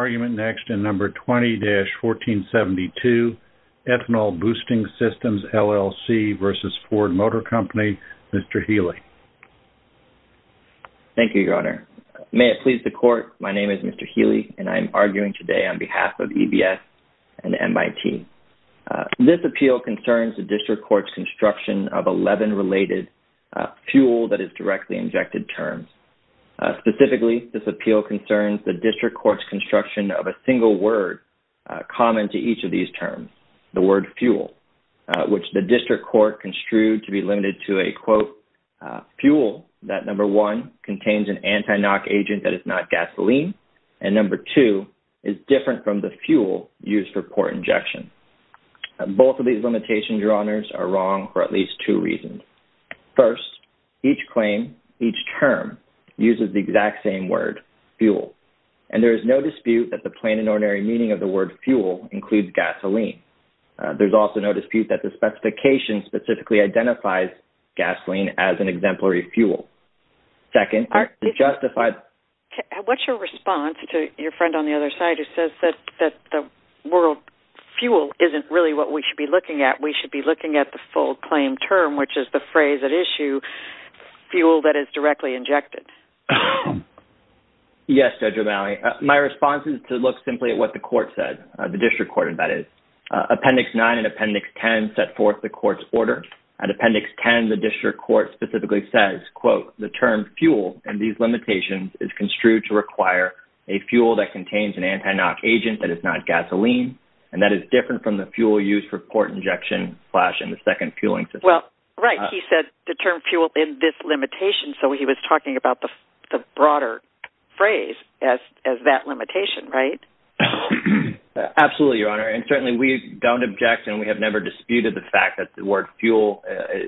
Argument next in number 20-1472, Ethanol Boosting Systems, LLC v. Ford Motor Company, Mr. Healy. Thank you, Your Honor. May it please the Court, my name is Mr. Healy and I am arguing today on behalf of EBS and MIT. This appeal concerns the District Court's construction of 11 related fuel that is directly injected terms. Specifically, this appeal concerns the District Court's construction of a single word common to each of these terms, the word fuel, which the District Court construed to be limited to a, quote, fuel that, number one, contains an anti-knock agent that is not gasoline and, number two, is different from the fuel used for port injection. Both of these limitations, Your Honors, are wrong for at least two reasons. First, each claim, each term uses the exact same word, fuel, and there is no dispute that the plain and ordinary meaning of the word fuel includes gasoline. There's also no dispute that the specification specifically identifies gasoline as an exemplary fuel. Second, the justified... What's your response to your friend on the other side who says that the word fuel isn't really what we should be looking at? We should be looking at the full claim term, which is the phrase at issue, fuel that is directly injected. Yes, Judge O'Malley. My response is to look simply at what the court said, the District Court, that is. Appendix 9 and Appendix 10 set forth the court's order. At Appendix 10, the District Court specifically says, quote, the term fuel and these limitations is construed to require a fuel that contains an anti-knock agent that is not gasoline and that is different from the fuel used for port injection, slash, and the second fueling system. Right. He said the term fuel in this limitation, so he was talking about the broader phrase as that limitation, right? Absolutely, Your Honor, and certainly we don't object and we have never disputed the fact that the word fuel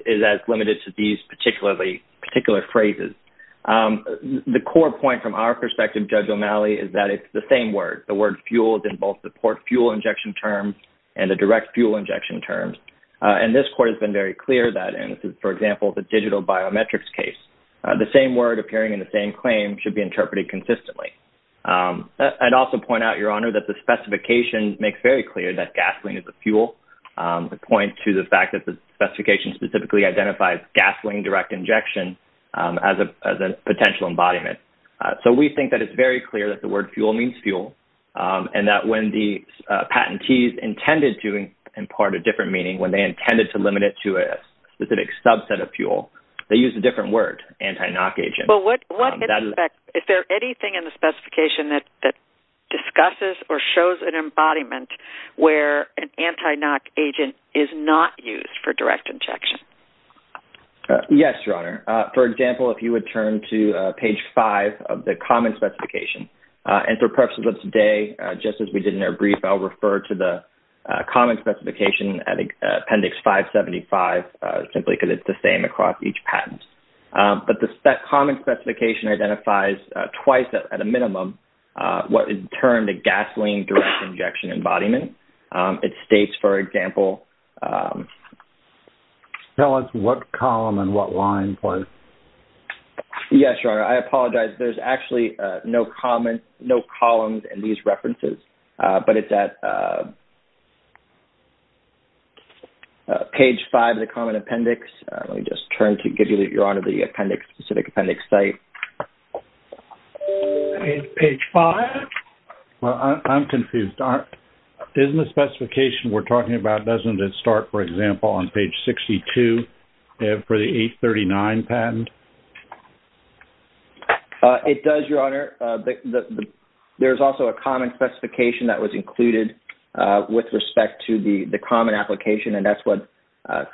is as limited to these particular phrases. The core point from our perspective, Judge O'Malley, is that it's the same word. The word fuel is in both the port fuel injection terms and the direct fuel injection terms, and this court has been very clear that in, for example, the digital biometrics case, the same word appearing in the same claim should be interpreted consistently. I'd also point out, Your Honor, that the specification makes very clear that gasoline is a fuel. The point to the fact that the specification specifically identifies gasoline direct injection as a potential embodiment. So we think that it's very clear that the word fuel means fuel and that when the patentees intended to impart a different meaning, when they intended to limit it to a specific subset of fuel, they used a different word, anti-NOC agent. Is there anything in the specification that discusses or shows an embodiment where an anti-NOC agent is not used for direct injection? Yes, Your Honor. For example, if you would turn to page 5 of the common specification. And for purposes of today, just as we did in our brief, I'll refer to the common specification at Appendix 575, simply because it's the same across each patent. But that common specification identifies twice at a minimum what in turn the gasoline direct injection embodiment. It states, for example… Tell us what column and what line, please. Yes, Your Honor. I apologize. There's actually no comment, no columns in these references, but it's at page 5 of the common appendix. Let me just turn to give you, Your Honor, the appendix, specific appendix site. Page 5? Well, I'm confused. Isn't the specification we're referring to for the 839 patent? It does, Your Honor. There's also a common specification that was included with respect to the common application, and that's what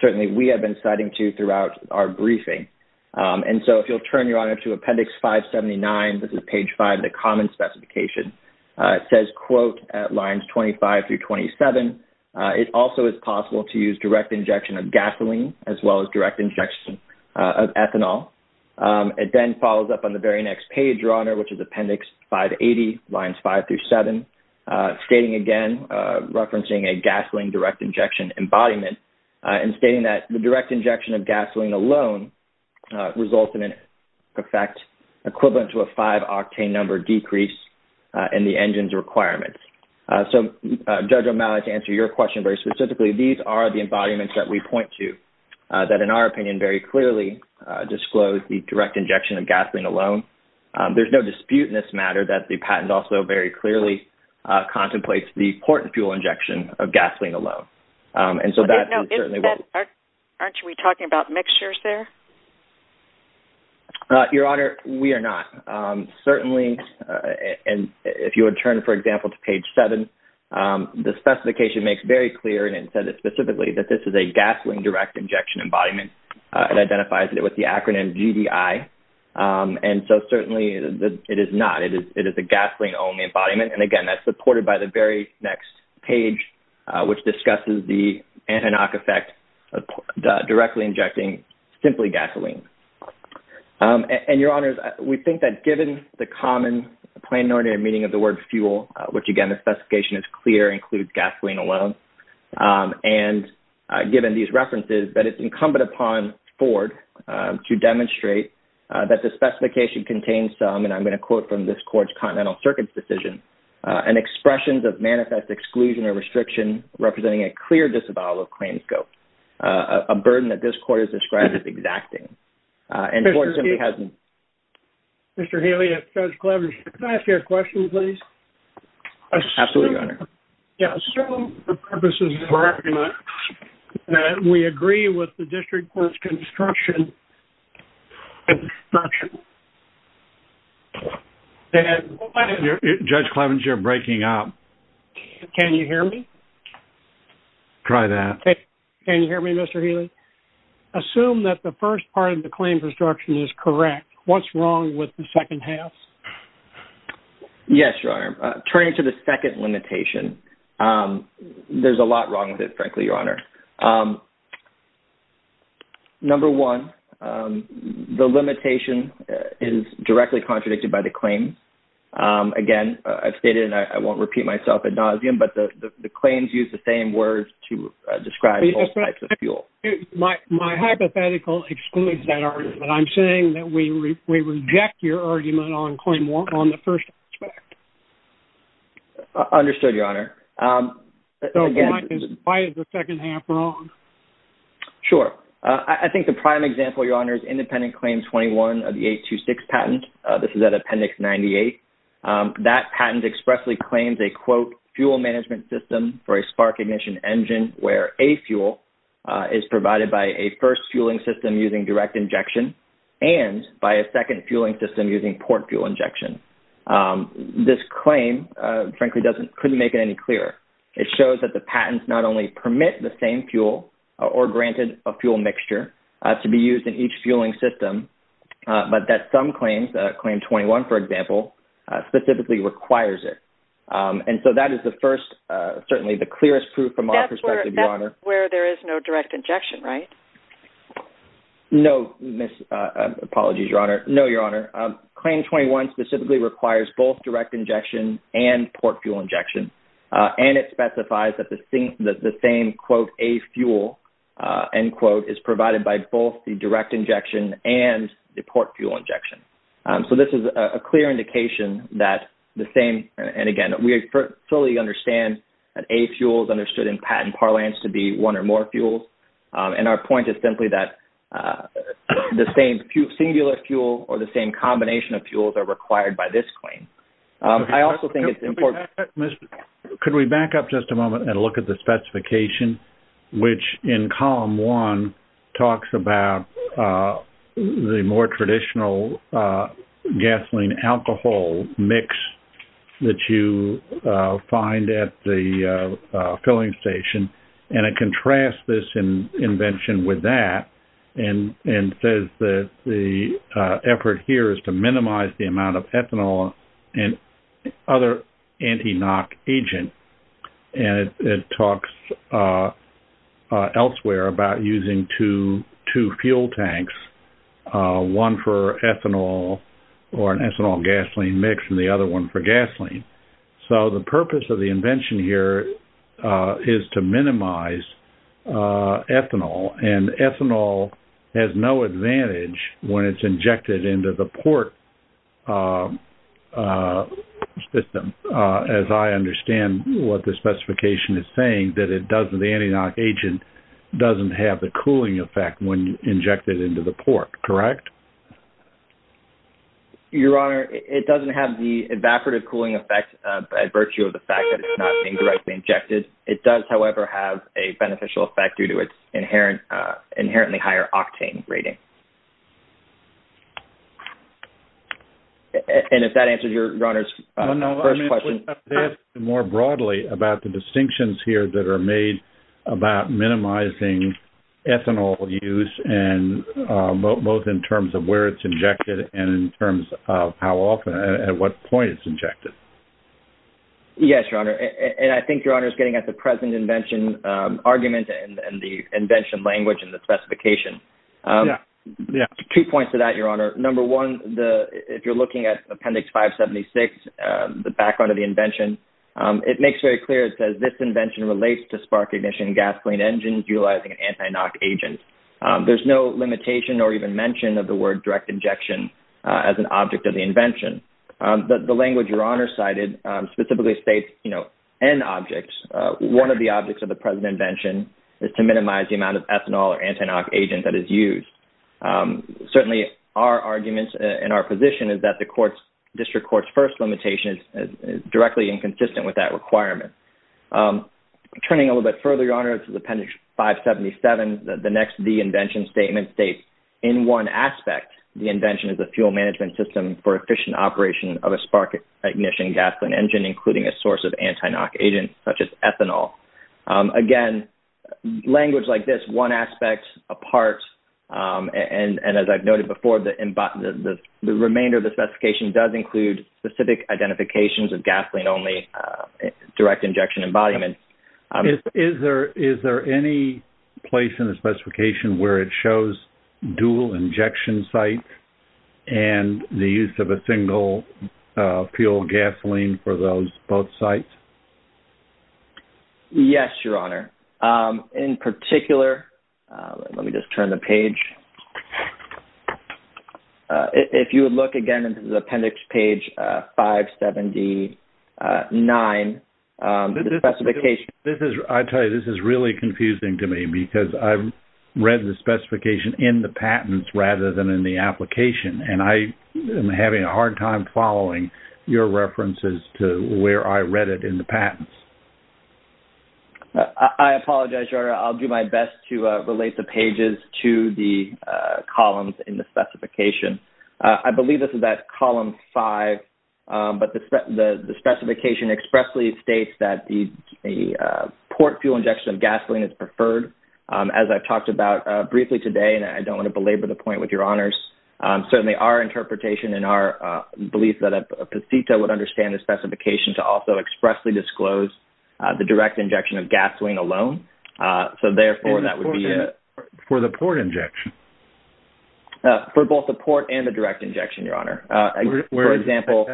certainly we have been citing to throughout our briefing. And so, if you'll turn, Your Honor, to Appendix 579, this is page 5, the common specification. It says, quote, at lines 25 through 27, it also is possible to use direct injection of gasoline as well as direct injection of ethanol. It then follows up on the very next page, Your Honor, which is Appendix 580, lines 5 through 7, stating again, referencing a gasoline direct injection embodiment, and stating that the direct injection of gasoline alone results in an effect equivalent to a five-octane number decrease in the engine's requirements. So, Judge O'Malley, to answer your question very specifically, these are the embodiments that we point to that, in our opinion, very clearly disclose the direct injection of gasoline alone. There's no dispute in this matter that the patent also very clearly contemplates the port and fuel injection of gasoline alone. And so, that is certainly... Aren't we talking about mixtures there? Your Honor, we are not. Certainly, and if you would turn, for example, to page 7, the specification makes very clear, and it says it specifically, that this is a gasoline direct injection embodiment. It identifies it with the acronym GDI. And so, certainly, it is not. It is a gasoline-only embodiment. And again, that's supported by the very next page, which discusses the anti-knock effect of directly injecting simply gasoline. And, Your Honors, we think that given the common plain ordinary meaning of the word fuel, which, again, the specification is clear, includes gasoline alone, and given these references, that it's incumbent upon Ford to demonstrate that the specification contains some, and I'm going to quote from this Court's Continental Circuit's decision, an expression that manifests exclusion or restriction, representing a clear disavowal of claims scope, a burden that this Court has described as exacting. Mr. Haley, Judge Clevenger, can I ask you a question, please? Absolutely, Your Honor. Yes. So, the purpose is that we agree with the District Court's construction... Judge Clevenger, you're breaking up. Can you hear me? Try that. Can you hear me, Mr. Haley? Assume that the first part of the claim construction is correct. What's wrong with the second half? Yes, Your Honor. Turning to the second limitation, there's a lot wrong with it, frankly, Your Honor. Number one, the limitation is directly contradicted by the claim. Again, I've stated, I won't repeat myself ad nauseum, but the claims use the same words to describe all types of fuel. My hypothetical excludes that argument. I'm saying that we reject your argument on the first aspect. Understood, Your Honor. Why is the second half wrong? Sure. I think the prime example, Your Honor, is Independent Claim 21 of the 826 patent. This is at Appendix 98. That patent expressly claims a, quote, fuel management system for a spark ignition engine where a fuel is provided by a first fueling system using direct injection and by a second fueling system using port fuel injection. This claim, frankly, couldn't make it any clearer. It shows that the patents not only permit the same fuel or granted a fuel mixture to be used in each fueling system, but that some claims 21, for example, specifically requires it. And so that is the first, certainly the clearest proof from our perspective, Your Honor. That's where there is no direct injection, right? No, apologies, Your Honor. No, Your Honor. Claim 21 specifically requires both direct injection and port fuel injection. And it specifies that the same, quote, a fuel, end quote, is provided by both the direct injection and the port fuel injection. So this is a clear indication that the same, and again, we fully understand that a fuel is understood in patent parlance to be one or more fuels. And our point is simply that the same singular fuel or the same combination of fuels are required by this claim. I also think it's important- Could we back up just a moment and look at the specification, which in column one talks about the more traditional gasoline alcohol mix that you find at the filling station, and it contrasts this invention with that and says that the effort here is to minimize the and it talks elsewhere about using two fuel tanks, one for ethanol or an ethanol-gasoline mix and the other one for gasoline. So the purpose of the invention here is to minimize ethanol, and ethanol has no advantage when it's injected into the port system, as I understand what the specification is saying, that it doesn't- the anti-NOx agent doesn't have the cooling effect when injected into the port, correct? Your Honor, it doesn't have the evaporative cooling effect by virtue of the fact that it's not being directly injected. It does, however, have a beneficial effect due to its inherently higher octane rating. And if that answers Your Honor's first question- No, no. I meant to ask more broadly about the distinctions here that are made about minimizing ethanol use, both in terms of where it's injected and in terms of how often, at what point it's injected. Yes, Your Honor. And I think Your Honor's present invention argument and the invention language and the specification. Two points to that, Your Honor. Number one, if you're looking at Appendix 576, the background of the invention, it makes very clear it says, this invention relates to spark ignition gasoline engines utilizing an anti-NOx agent. There's no limitation or even mention of the word direct injection as an object of the invention. The language Your Honor cited specifically states N objects. One of the objects of the present invention is to minimize the amount of ethanol or anti-NOx agent that is used. Certainly, our arguments and our position is that the district court's first limitation is directly inconsistent with that requirement. Turning a little bit further, Your Honor, to the Appendix 577, the next the invention statement states, in one aspect, the invention is a fuel management system for efficient operation of a spark ignition gasoline engine, including a source of anti-NOx agent such as ethanol. Again, language like this, one aspect apart, and as I've noted before, the remainder of the specification does include specific identifications of gasoline-only direct injection embodiment. Is there any place in the specification where it shows dual injection sites and the use of a single fuel gasoline for those both sites? Yes, Your Honor. In particular, let me just turn the page. If you would look again into the Appendix page 579, the specification- I tell you, this is really confusing to me because I've read the specification in the patents rather than in the application. I am having a hard time following your references to where I read it in the patents. I apologize, Your Honor. I'll do my best to relate the pages to the columns in the specification. I believe this is at Column 5, but the specification expressly states that the port fuel injection of gasoline is preferred. As I've talked about briefly today, and I don't want to belabor the point with Your Honors, certainly our interpretation and our belief that a PCETA would understand the specification to also expressly disclose the direct injection of gasoline alone. Therefore, that would be it. For the port injection? For both the port and the direct injection, Your Honor. For example,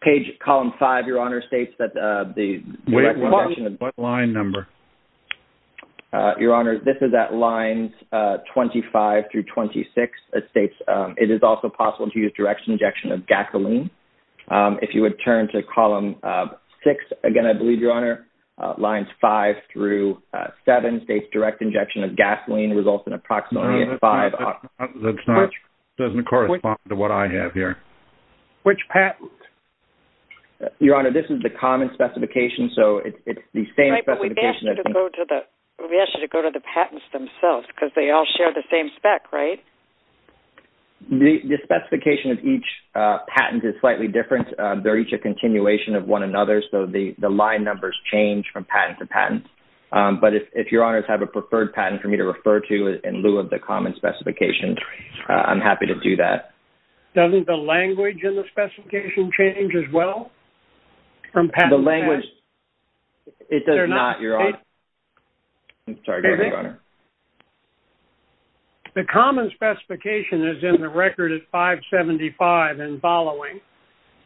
page- Column 5, Your Honor, states that the- What line number? Your Honor, this is at Lines 25 through 26. It states it is also possible to use direct injection of gasoline. If you would turn to Column 6 again, I believe, Your Honor, Lines 5 through 7 states direct injection of gasoline results in approximately five- Doesn't correspond to what I have here. Which patent? Your Honor, this is the common specification, so it's the same specification- Right, but we asked you to go to the patents themselves because they all share the same spec, right? The specification of each patent is slightly different. They're each a different patent, but if Your Honors have a preferred patent for me to refer to in lieu of the common specification, I'm happy to do that. Doesn't the language in the specification change as well? The common specification is in the record at 575 and following,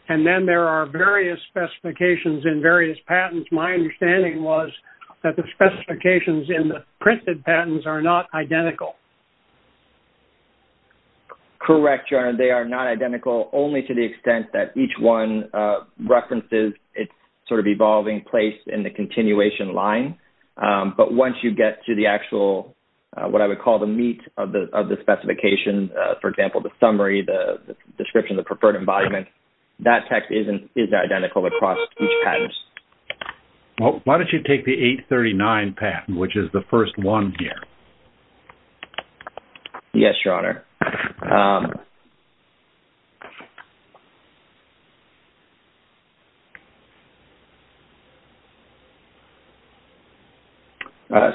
and then there are various specifications in various patents. My understanding was that the specifications in the printed patents are not identical. Correct, Your Honor. They are not identical only to the extent that each one references its sort of evolving place in the continuation line, but once you get to the actual- what I would call the meat of the specification, for example, the summary, the description, the preferred embodiment, that text is identical across each patent. Well, why don't you take the 839 patent, which is the first one here? Yes, Your Honor.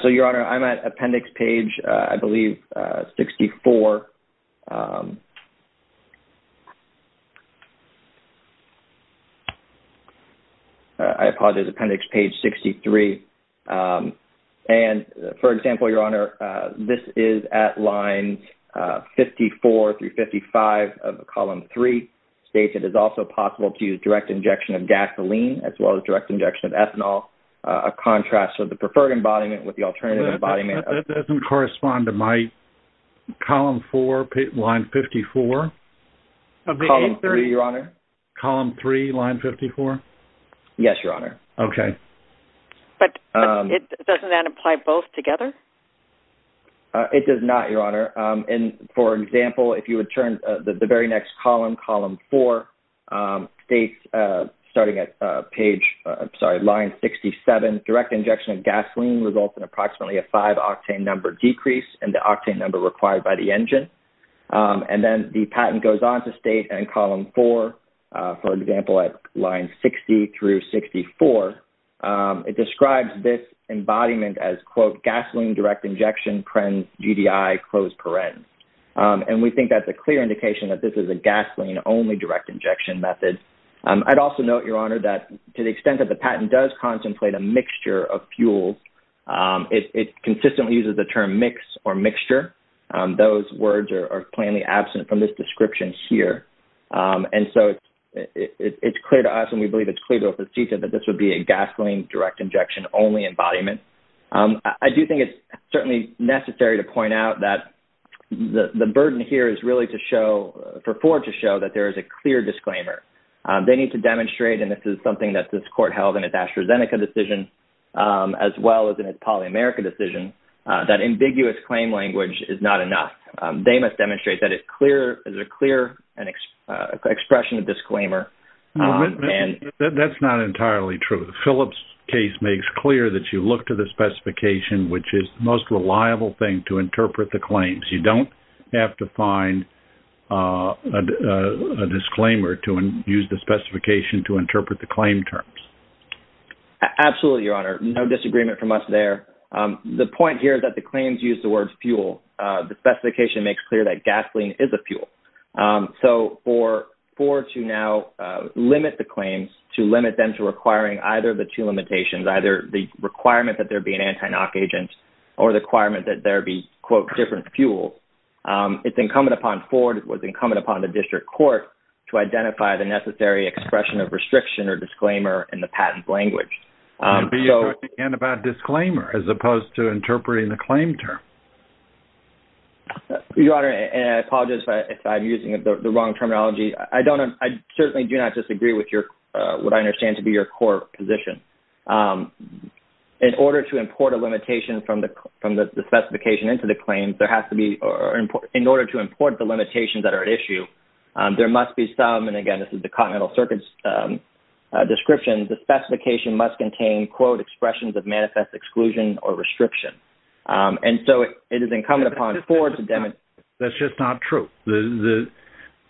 So, Your Honor, I'm at appendix page, I believe, 64. I apologize, appendix page 63. And, for example, Your Honor, this is at line 54 through 55 of column 3 states it is also possible to use direct injection of gasoline as well as direct injection of ethanol, a contrast of the preferred embodiment with the alternative embodiment. That doesn't correspond to my column 4, line 54. Column 3, Your Honor? Column 3, line 54? Yes, Your Honor. Okay. But doesn't that apply both together? It does not, Your Honor. And, for example, if you would turn the very next column, column 4 states, starting at page- I'm sorry, line 67, direct injection of gasoline results in approximately a 5-octane number decrease in the octane number required by the engine. And then the patent goes on to state in column 4, for example, at line 60 through 64, it describes this embodiment as, quote, gasoline direct injection, PREN, GDI, close parens. And we think that's a clear indication that this is a gasoline-only direct injection method. I'd also note, Your Honor, that to the consistent use of the term mix or mixture, those words are plainly absent from this description here. And so it's clear to us, and we believe it's clear to us at CETA, that this would be a gasoline direct injection-only embodiment. I do think it's certainly necessary to point out that the burden here is really to show, for Ford to show, that there is a clear disclaimer. They need to demonstrate, and this is something that this Court held in its AstraZeneca decision, as well as in its PolyAmerica decision, that ambiguous claim language is not enough. They must demonstrate that it's a clear expression of disclaimer. That's not entirely true. Philip's case makes clear that you look to the specification, which is the most reliable thing to interpret the claims. You don't have to find a disclaimer to use the specification to interpret the claim terms. Absolutely, Your Honor. No disagreement from us there. The point here is that the claims use the word fuel. The specification makes clear that gasoline is a fuel. So for Ford to now limit the claims, to limit them to requiring either the two limitations, either the requirement that there be an anti-knock agent or the requirement that there be, quote, different fuels, it's incumbent upon Ford, it was incumbent upon the District Court to identify the necessary expression of restriction or disclaimer in the patent language. Be assertive again about disclaimer as opposed to interpreting the claim term. Your Honor, and I apologize if I'm using the wrong terminology, I certainly do not disagree with what I understand to be your core position. In order to import a limitation from the specification into the claims, there has to be, or in order to import the limitations that are issue, there must be some, and again, this is the Continental Circuit's description, the specification must contain, quote, expressions of manifest exclusion or restriction. And so it is incumbent upon Ford to demonstrate... That's just not true.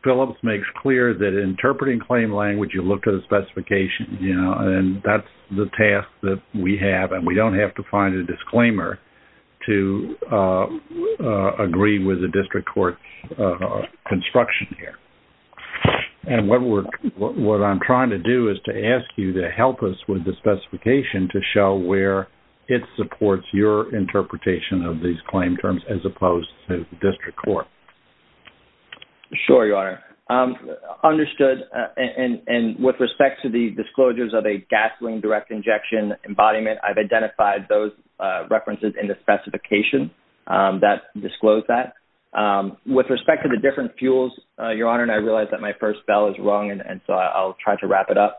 Phillips makes clear that interpreting claim language, you look to the specification, and that's the task that we have, and we don't have to find a disclaimer to agree with the District Court's construction here. And what I'm trying to do is to ask you to help us with the specification to show where it supports your interpretation of these claim terms as opposed to the District Court. Sure, Your Honor. Understood, and with respect to the disclosures of a gasoline direct injection embodiment, I've identified those references in the specification that disclose that. With respect to the different fuels, Your Honor, and I realize that my first bell is rung, and so I'll try to wrap it up.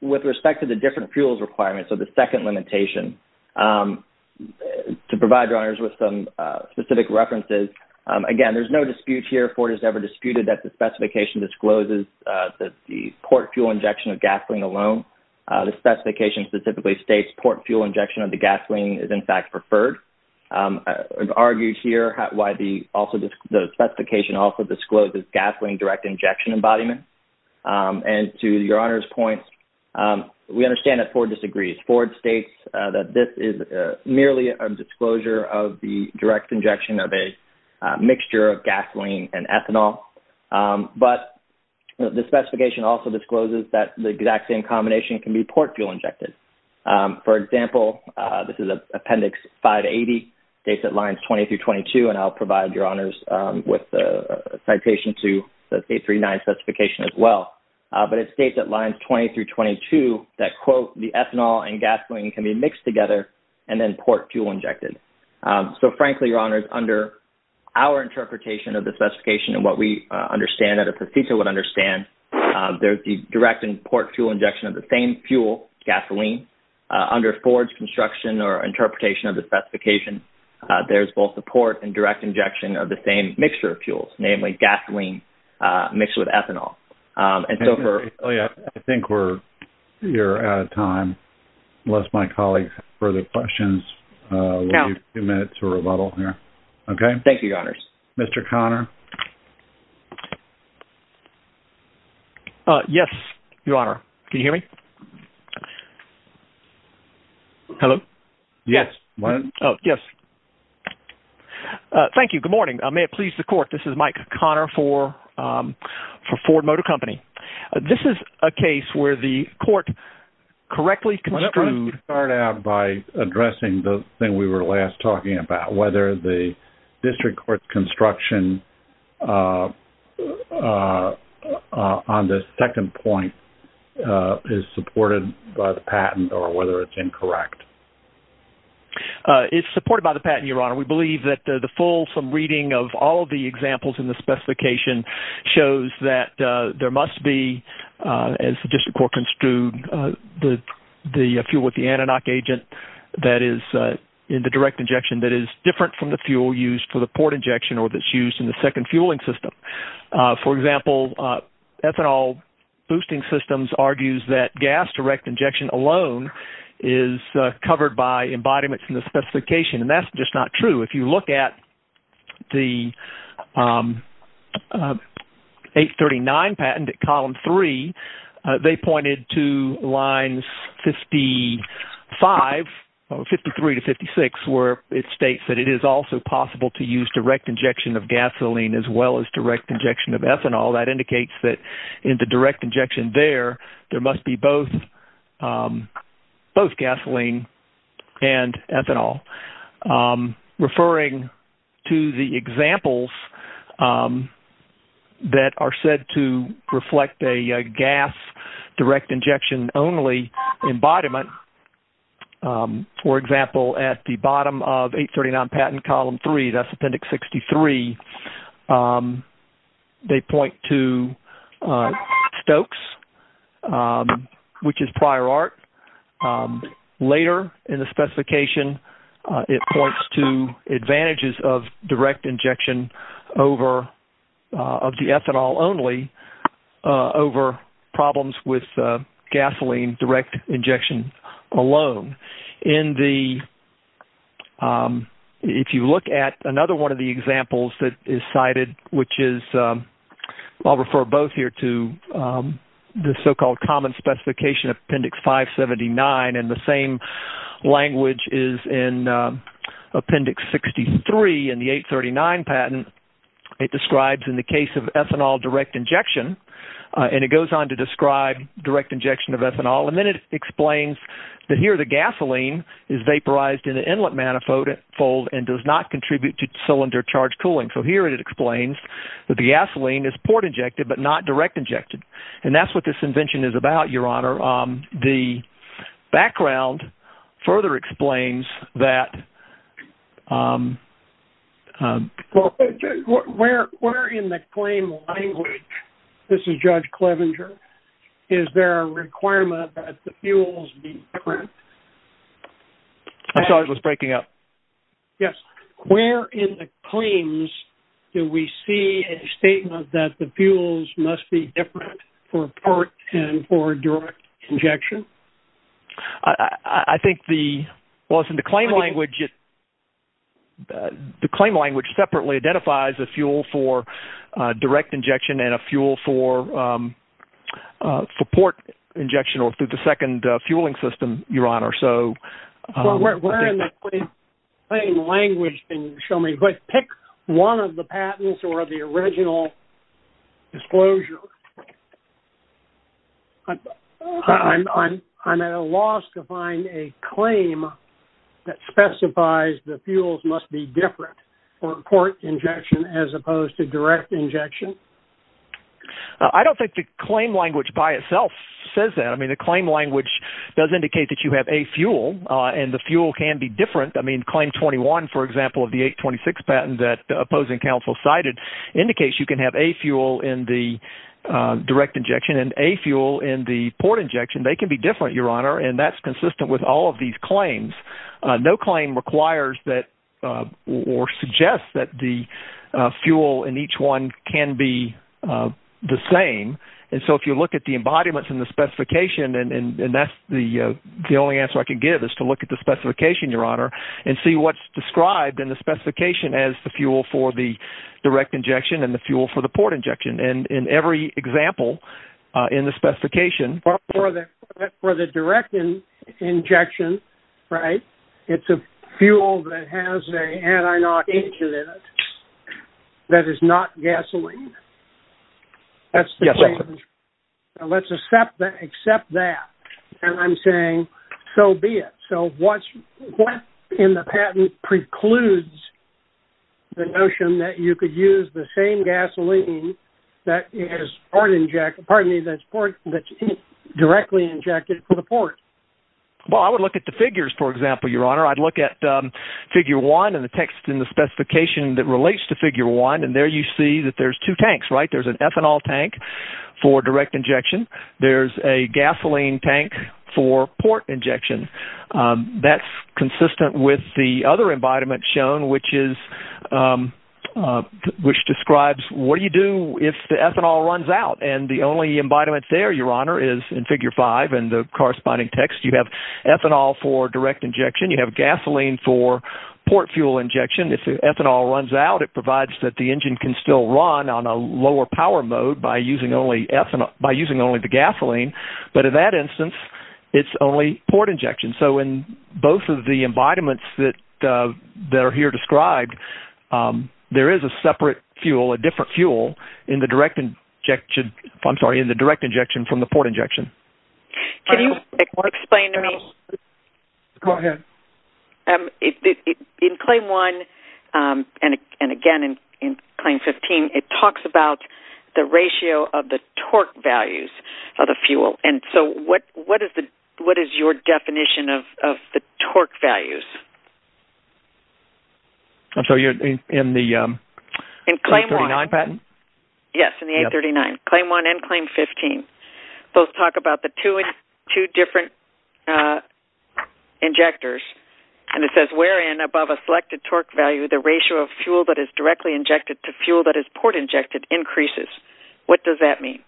With respect to the different fuels requirements, so the second limitation, to provide Your Honors with some specific references, again, there's no dispute here, that the specification discloses that the port fuel injection of gasoline alone, the specification specifically states port fuel injection of the gasoline is, in fact, preferred. I've argued here why the specification also discloses gasoline direct injection embodiment. And to Your Honor's point, we understand that Ford disagrees. Ford states that this is merely a disclosure of the direct injection of a mixture of gasoline and ethanol. But the specification also discloses that the exact same combination can be port fuel injected. For example, this is Appendix 580, dates at lines 20 through 22, and I'll provide Your Honors with a citation to the State 3-9 specification as well. But it states at lines 20 through 22 that, quote, the ethanol and gasoline can be mixed together and then port fuel injected. So, frankly, Your Honors, under our interpretation of the specification and what we understand, as a procedure would understand, there's the direct and port fuel injection of the same fuel, gasoline. Under Ford's construction or interpretation of the specification, there's both the port and direct injection of the same mixture of fuels, namely gasoline mixed with ethanol. And so for... Oh, yeah. I think we're out of time. Unless my colleagues have further questions, we'll leave a few minutes for rebuttal here. Okay? Thank you, Your Honors. Mr. Conner? Yes, Your Honor. Can you hear me? Hello? Yes. Oh, yes. Thank you. Good morning. May it please the Court, this is Mike Conner for Ford Motor Company. This is a case where the court correctly construed... Why don't we start out by addressing the thing we were last talking about, whether the district court's construction on the second point is supported by the patent or whether it's incorrect. It's supported by the patent, Your Honor. We believe that the full, reading of all of the examples in the specification shows that there must be, as the district court construed, the fuel with the anodic agent that is in the direct injection that is different from the fuel used for the port injection or that's used in the second fueling system. For example, ethanol boosting systems argues that gas direct injection alone is covered by embodiments in the specification, and that's just not true. If you look at the 839 patent at column 3, they pointed to lines 55, 53 to 56, where it states that it is also possible to use direct injection of gasoline as well as direct injection of ethanol. That indicates that in the direct injection there, there must be both gasoline and ethanol. Referring to the examples that are said to reflect a gas direct injection only embodiment, for example, at the bottom of 839 patent column 3, that's appendix 63, they point to Stokes, which is prior art. Later in the specification, it points to advantages of direct injection of the ethanol only over problems with gasoline direct injection alone. In the, if you look at another one of the examples that is cited, which is, I'll refer both here to the so-called common specification appendix 579, and the same language is in appendix 63 in the 839 patent. It describes in the case of ethanol direct injection, and it goes on to describe direct injection of ethanol, and then it explains that here the gasoline is vaporized in the inlet manifold and does not contribute to cylinder-charged cooling. So here it explains that the gasoline is port-injected but not direct-injected, and that's what this invention is about, Your Honor. The background further explains that I'm... Where in the claim language, this is Judge Clevenger, is there a requirement that the fuels be different? I'm sorry, I was breaking up. Yes. Where in the claims do we see a statement that the fuels must be different for port and for direct injection? I think the... Well, it's in the claim language. The claim language separately identifies a fuel for direct injection and a fuel for port injection or through the second fueling system, Your Honor, so... Where in the claim language can you show me? Pick one of the patents or the original disclosure. I'm at a loss to find a claim that specifies the fuels must be different for port injection as opposed to direct injection. I don't think the claim language by itself says that. I mean, the claim language does indicate that you have a fuel, and the fuel can be different. I mean, Claim 21, for example, of the 826 patent that the opposing counsel cited indicates you can have a fuel in the direct injection and a fuel in the port injection. They can be different, Your Honor, and that's consistent with all of these claims. No claim requires that or suggests that the fuel in each one can be the same. And so if you look at the embodiments and the specification, and that's the only answer I can give is to look at the specification, Your Honor, and see what's described in the specification as the fuel for the injection and the fuel for the port injection. And in every example in the specification... For the direct injection, right, it's a fuel that has an anti-knock agent in it that is not gasoline. That's the claim. Yes, that's it. Let's accept that. And I'm saying, so be it. So what in the patent precludes the notion that you could use the same gasoline that is directly injected for the port? Well, I would look at the figures, for example, Your Honor. I'd look at figure one and the text in the specification that relates to figure one, and there you see that there's two tanks, right? There's an ethanol tank for direct injection. There's a gasoline tank for port injection. That's consistent with the other embodiment shown, which describes what do you do if the ethanol runs out? And the only embodiment there, Your Honor, is in figure five and the corresponding text. You have ethanol for direct injection. You have gasoline for port fuel injection. If the ethanol runs out, it provides that the engine can still run on a it's only port injection. So in both of the embodiments that are here described, there is a separate fuel, a different fuel in the direct injection from the port injection. Can you explain to me? Go ahead. In claim one and again in claim 15, it talks about the ratio of the torque values of the fuel. And so what is your definition of the torque values? I'm sorry, in the A39 patent? Yes, in the A39. Claim one and claim 15. Those talk about the two different injectors, and it says, wherein above a selected torque value, the ratio of fuel that is directly injected to fuel that is port injected increases. What does that mean?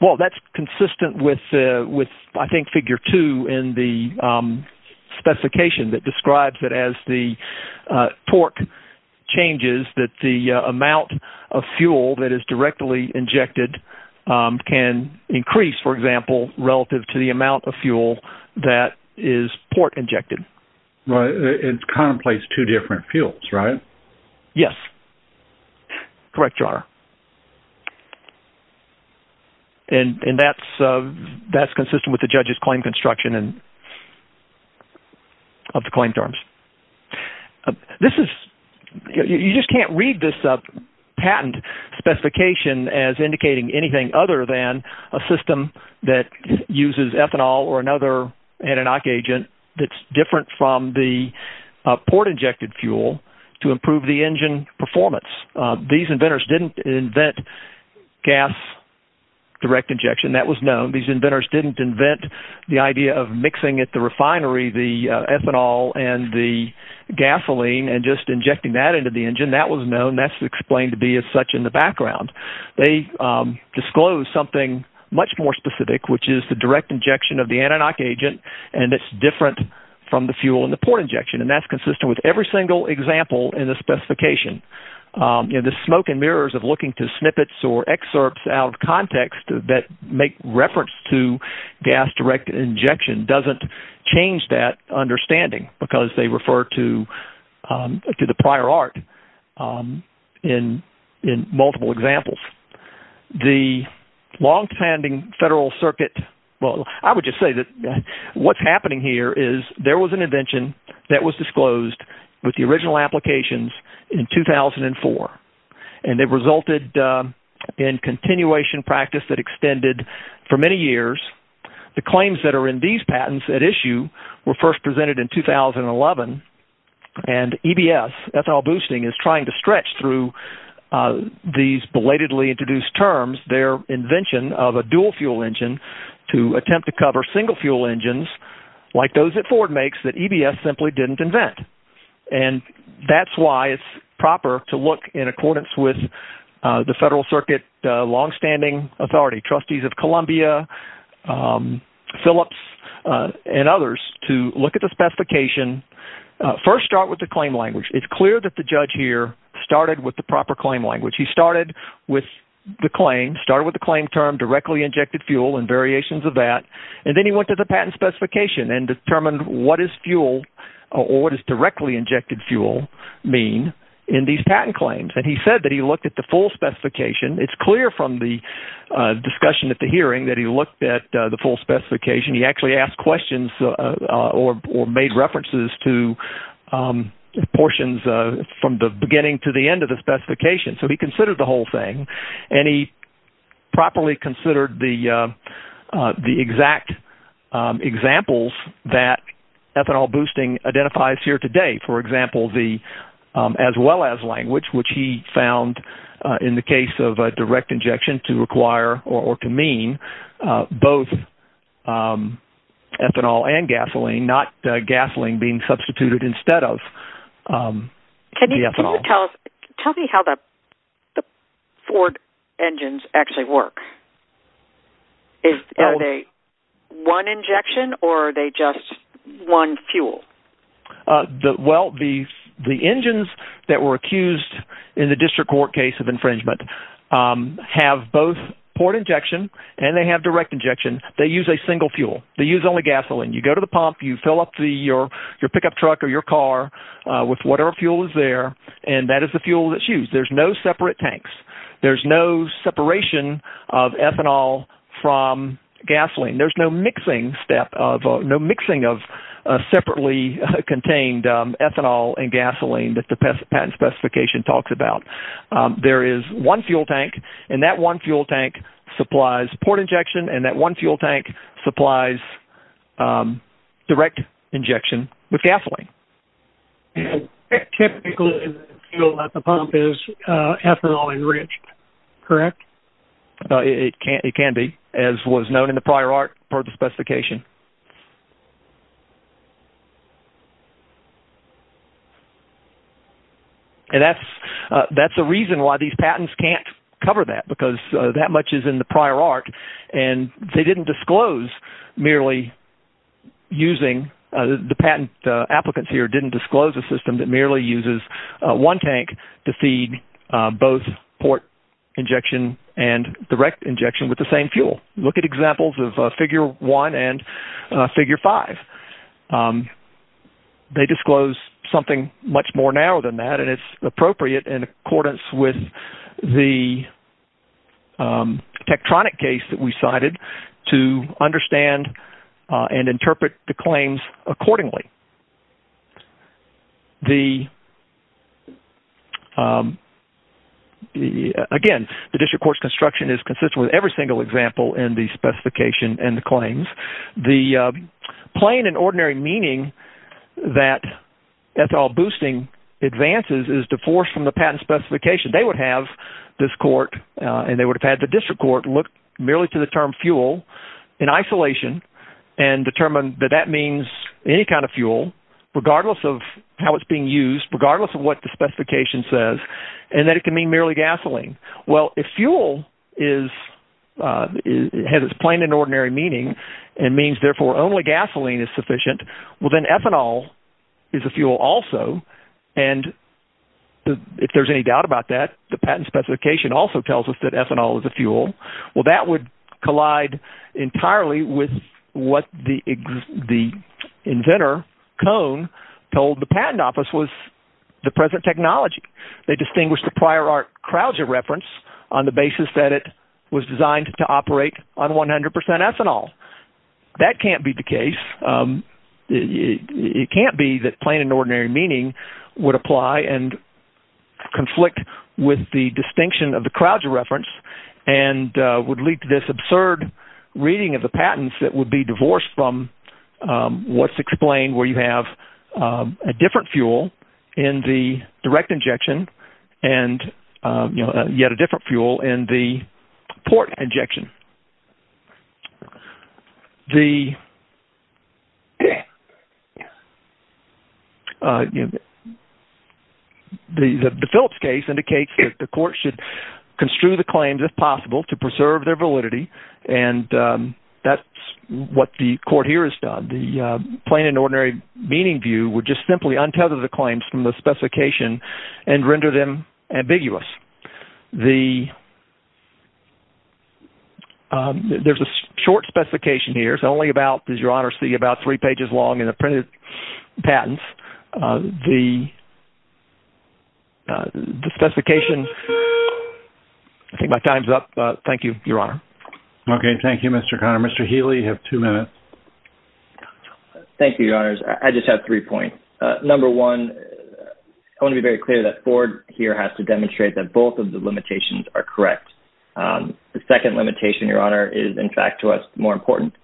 Well, that's consistent with, I think, figure two in the specification that describes it as the torque changes that the amount of fuel that is directly injected can increase, for example, relative to the amount of fuel that is port injected. It contemplates two different fuels, right? Yes. Correct, Your Honor. Correct. And that's consistent with the judge's claim construction of the claim terms. This is, you just can't read this patent specification as indicating anything other than a system that uses ethanol or another Adenoc agent that's different from the port injected fuel to improve the engine performance. These inventors didn't invent gas direct injection. That was known. These inventors didn't invent the idea of mixing at the refinery the ethanol and the gasoline and just injecting that into the engine. That was known. That's explained to be as such in the background. They disclosed something much more specific, which is the direct injection of the Adenoc agent, and it's different from the fuel and the port injection, and that's consistent with every single example in the specification. The smoke and mirrors of looking to snippets or excerpts out of context that make reference to gas direct injection doesn't change that understanding because they refer to the prior art in multiple examples. The longstanding federal circuit, well, I would just say that what's happening here is there was an invention that was disclosed with the original applications in 2004, and it resulted in continuation practice that extended for many years. The claims that are in these patents at issue were first presented in 2011, and EBS, ethanol boosting, is trying to stretch through these belatedly introduced terms, their invention of a dual fuel engine to attempt to cover single fuel engines like those that makes that EBS simply didn't invent, and that's why it's proper to look in accordance with the federal circuit longstanding authority, trustees of Columbia, Phillips, and others to look at the specification. First start with the claim language. It's clear that the judge here started with the proper claim language. He started with the claim, started with the claim term directly injected fuel and variations of that, and then he went to the patent specification and determined what is fuel or what is directly injected fuel mean in these patent claims, and he said that he looked at the full specification. It's clear from the discussion at the hearing that he looked at the full specification. He actually asked questions or made references to portions from the beginning to the end of the specification, so he considered the whole thing, and he properly considered the exact examples that ethanol boosting identifies here today. For example, the as well as language, which he found in the case of a direct injection to require or to mean both ethanol and gasoline, not gasoline being substituted instead of the ethanol. Can you tell me how the Ford engines actually work? Are they one injection or are they just one fuel? Well, the engines that were accused in the district court case of infringement have both port injection and they have direct injection. They use a single fuel. They use only gasoline. You go to the pump, you fill up your pickup truck or your car with whatever fuel is there, and that is the fuel that's used. There's no separate tanks. There's no separation of ethanol from gasoline. There's no mixing of separately contained ethanol and gasoline that the patent specification talks about. There is one fuel tank, and that one fuel tank supplies port injection, and that one fuel tank supplies direct injection with gasoline. Typically, the pump is ethanol enriched, correct? It can be, as was known in the prior part of the specification. And that's a reason why these patents can't cover that because that much is in the prior art, and they didn't disclose merely using the patent. The applicants here didn't disclose a system that merely uses one tank to feed both port injection and direct injection with the same fuel. Look at examples of figure one and two, and you'll see that there's a difference in the figure five. They disclose something much more narrow than that, and it's appropriate in accordance with the Tektronik case that we cited to understand and interpret the claims accordingly. Again, the district court's construction is consistent with every single example in the claims. The plain and ordinary meaning that ethyl boosting advances is divorced from the patent specification. They would have this court, and they would have had the district court look merely to the term fuel in isolation and determine that that means any kind of fuel, regardless of how it's being used, regardless of what the specification says, and that it can mean merely gasoline. Well, if fuel has its plain and ordinary meaning and means therefore only gasoline is sufficient, well, then ethanol is a fuel also. And if there's any doubt about that, the patent specification also tells us that ethanol is a fuel. Well, that would collide entirely with what the inventor, Cone, told the patent office was the present technology. They distinguished the prior art Krause reference on the basis that it was designed to operate on 100% ethanol. That can't be the case. It can't be that plain and ordinary meaning would apply and conflict with the distinction of the Krause reference and would lead to this absurd reading of the patents that would be divorced from what's explained where you have a different fuel in the direct injection and, you know, yet a different fuel in the port injection. The Phillips case indicates that the court should construe the claims if possible to meaning view would just simply untether the claims from the specification and render them ambiguous. There's a short specification here. It's only about, as your honor see, about three pages long in the printed patents. The specification, I think my time's up. Thank you, your honor. Okay. Thank you, Mr. Conner. Mr. Healy, you have two minutes. Thank you, your honors. I just have three points. Number one, I want to be very clear that Ford here has to demonstrate that both of the limitations are correct. The second limitation, your honor, is in fact to us more important.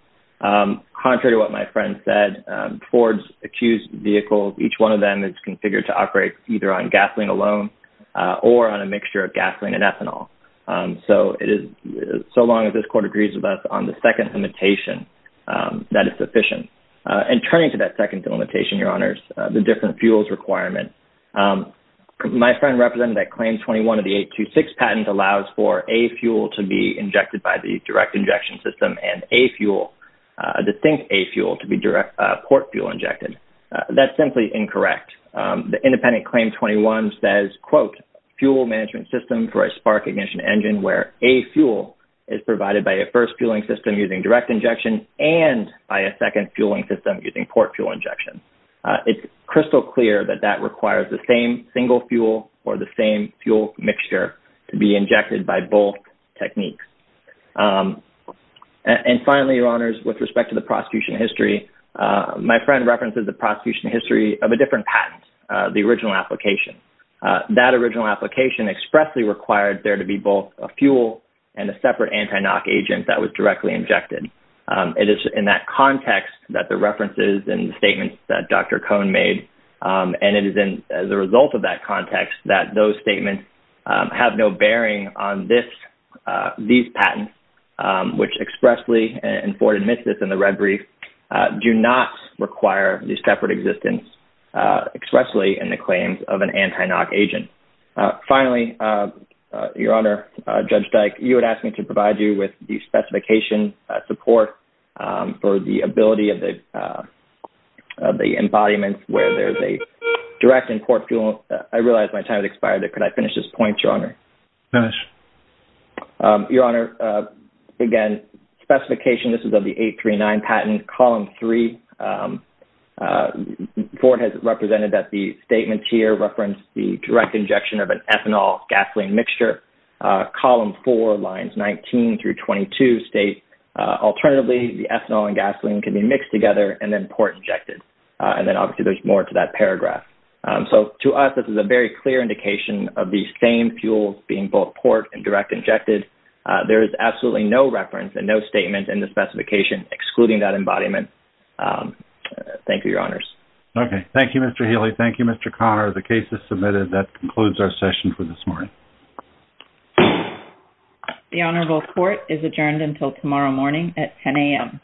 Contrary to what my friend said, Ford's accused vehicles, each one of them is configured to operate either on gasoline alone or on a mixture of gasoline and ethanol. So it is, so long as this court agrees with us on the second limitation, that is sufficient. And turning to that second limitation, your honors, the different fuels requirement. My friend represented that claim 21 of the 826 patent allows for a fuel to be injected by the direct injection system and a fuel, the thing, a fuel to be direct port fuel injected. That's simply incorrect. The independent claim 21 says, quote, fuel management system for a spark ignition engine, where a fuel is provided by a fueling system using direct injection and by a second fueling system using port fuel injection. It's crystal clear that that requires the same single fuel or the same fuel mixture to be injected by both techniques. And finally, your honors, with respect to the prosecution history, my friend references the prosecution history of a different patent, the original application. That original application expressly required there to be both a fuel and a separate anti-knock agent that was directly injected. It is in that context that the references and statements that Dr. Cohn made. And it is in the result of that context that those statements have no bearing on this, these patents, which expressly, and Ford admits this in the red brief, do not require these separate existence expressly in the claims of an anti-knock agent. Finally, your honor, Judge Dyke, you had asked me to provide you with the specification support for the ability of the embodiment where there's a direct and port fuel. I realized my time has expired. Could I finish this point, your honor? Finish. Your honor, again, specification, this is of the 839 patent, column three. Ford has represented that the statements here reference the direct injection of an ethanol gasoline mixture. Column four, lines 19 through 22 state, alternatively, the ethanol and gasoline can be mixed together and then port injected. And then obviously there's more to that paragraph. So to us, this is a very clear indication of these same fuels being both port and direct injected. There is absolutely no reference and no statement in the specification excluding that embodiment. Thank you, your honors. Okay. Thank you, Mr. Healy. Thank you, Mr. Connor. The case is submitted. That concludes our session for this morning. The honorable court is adjourned until tomorrow morning at 10 a.m.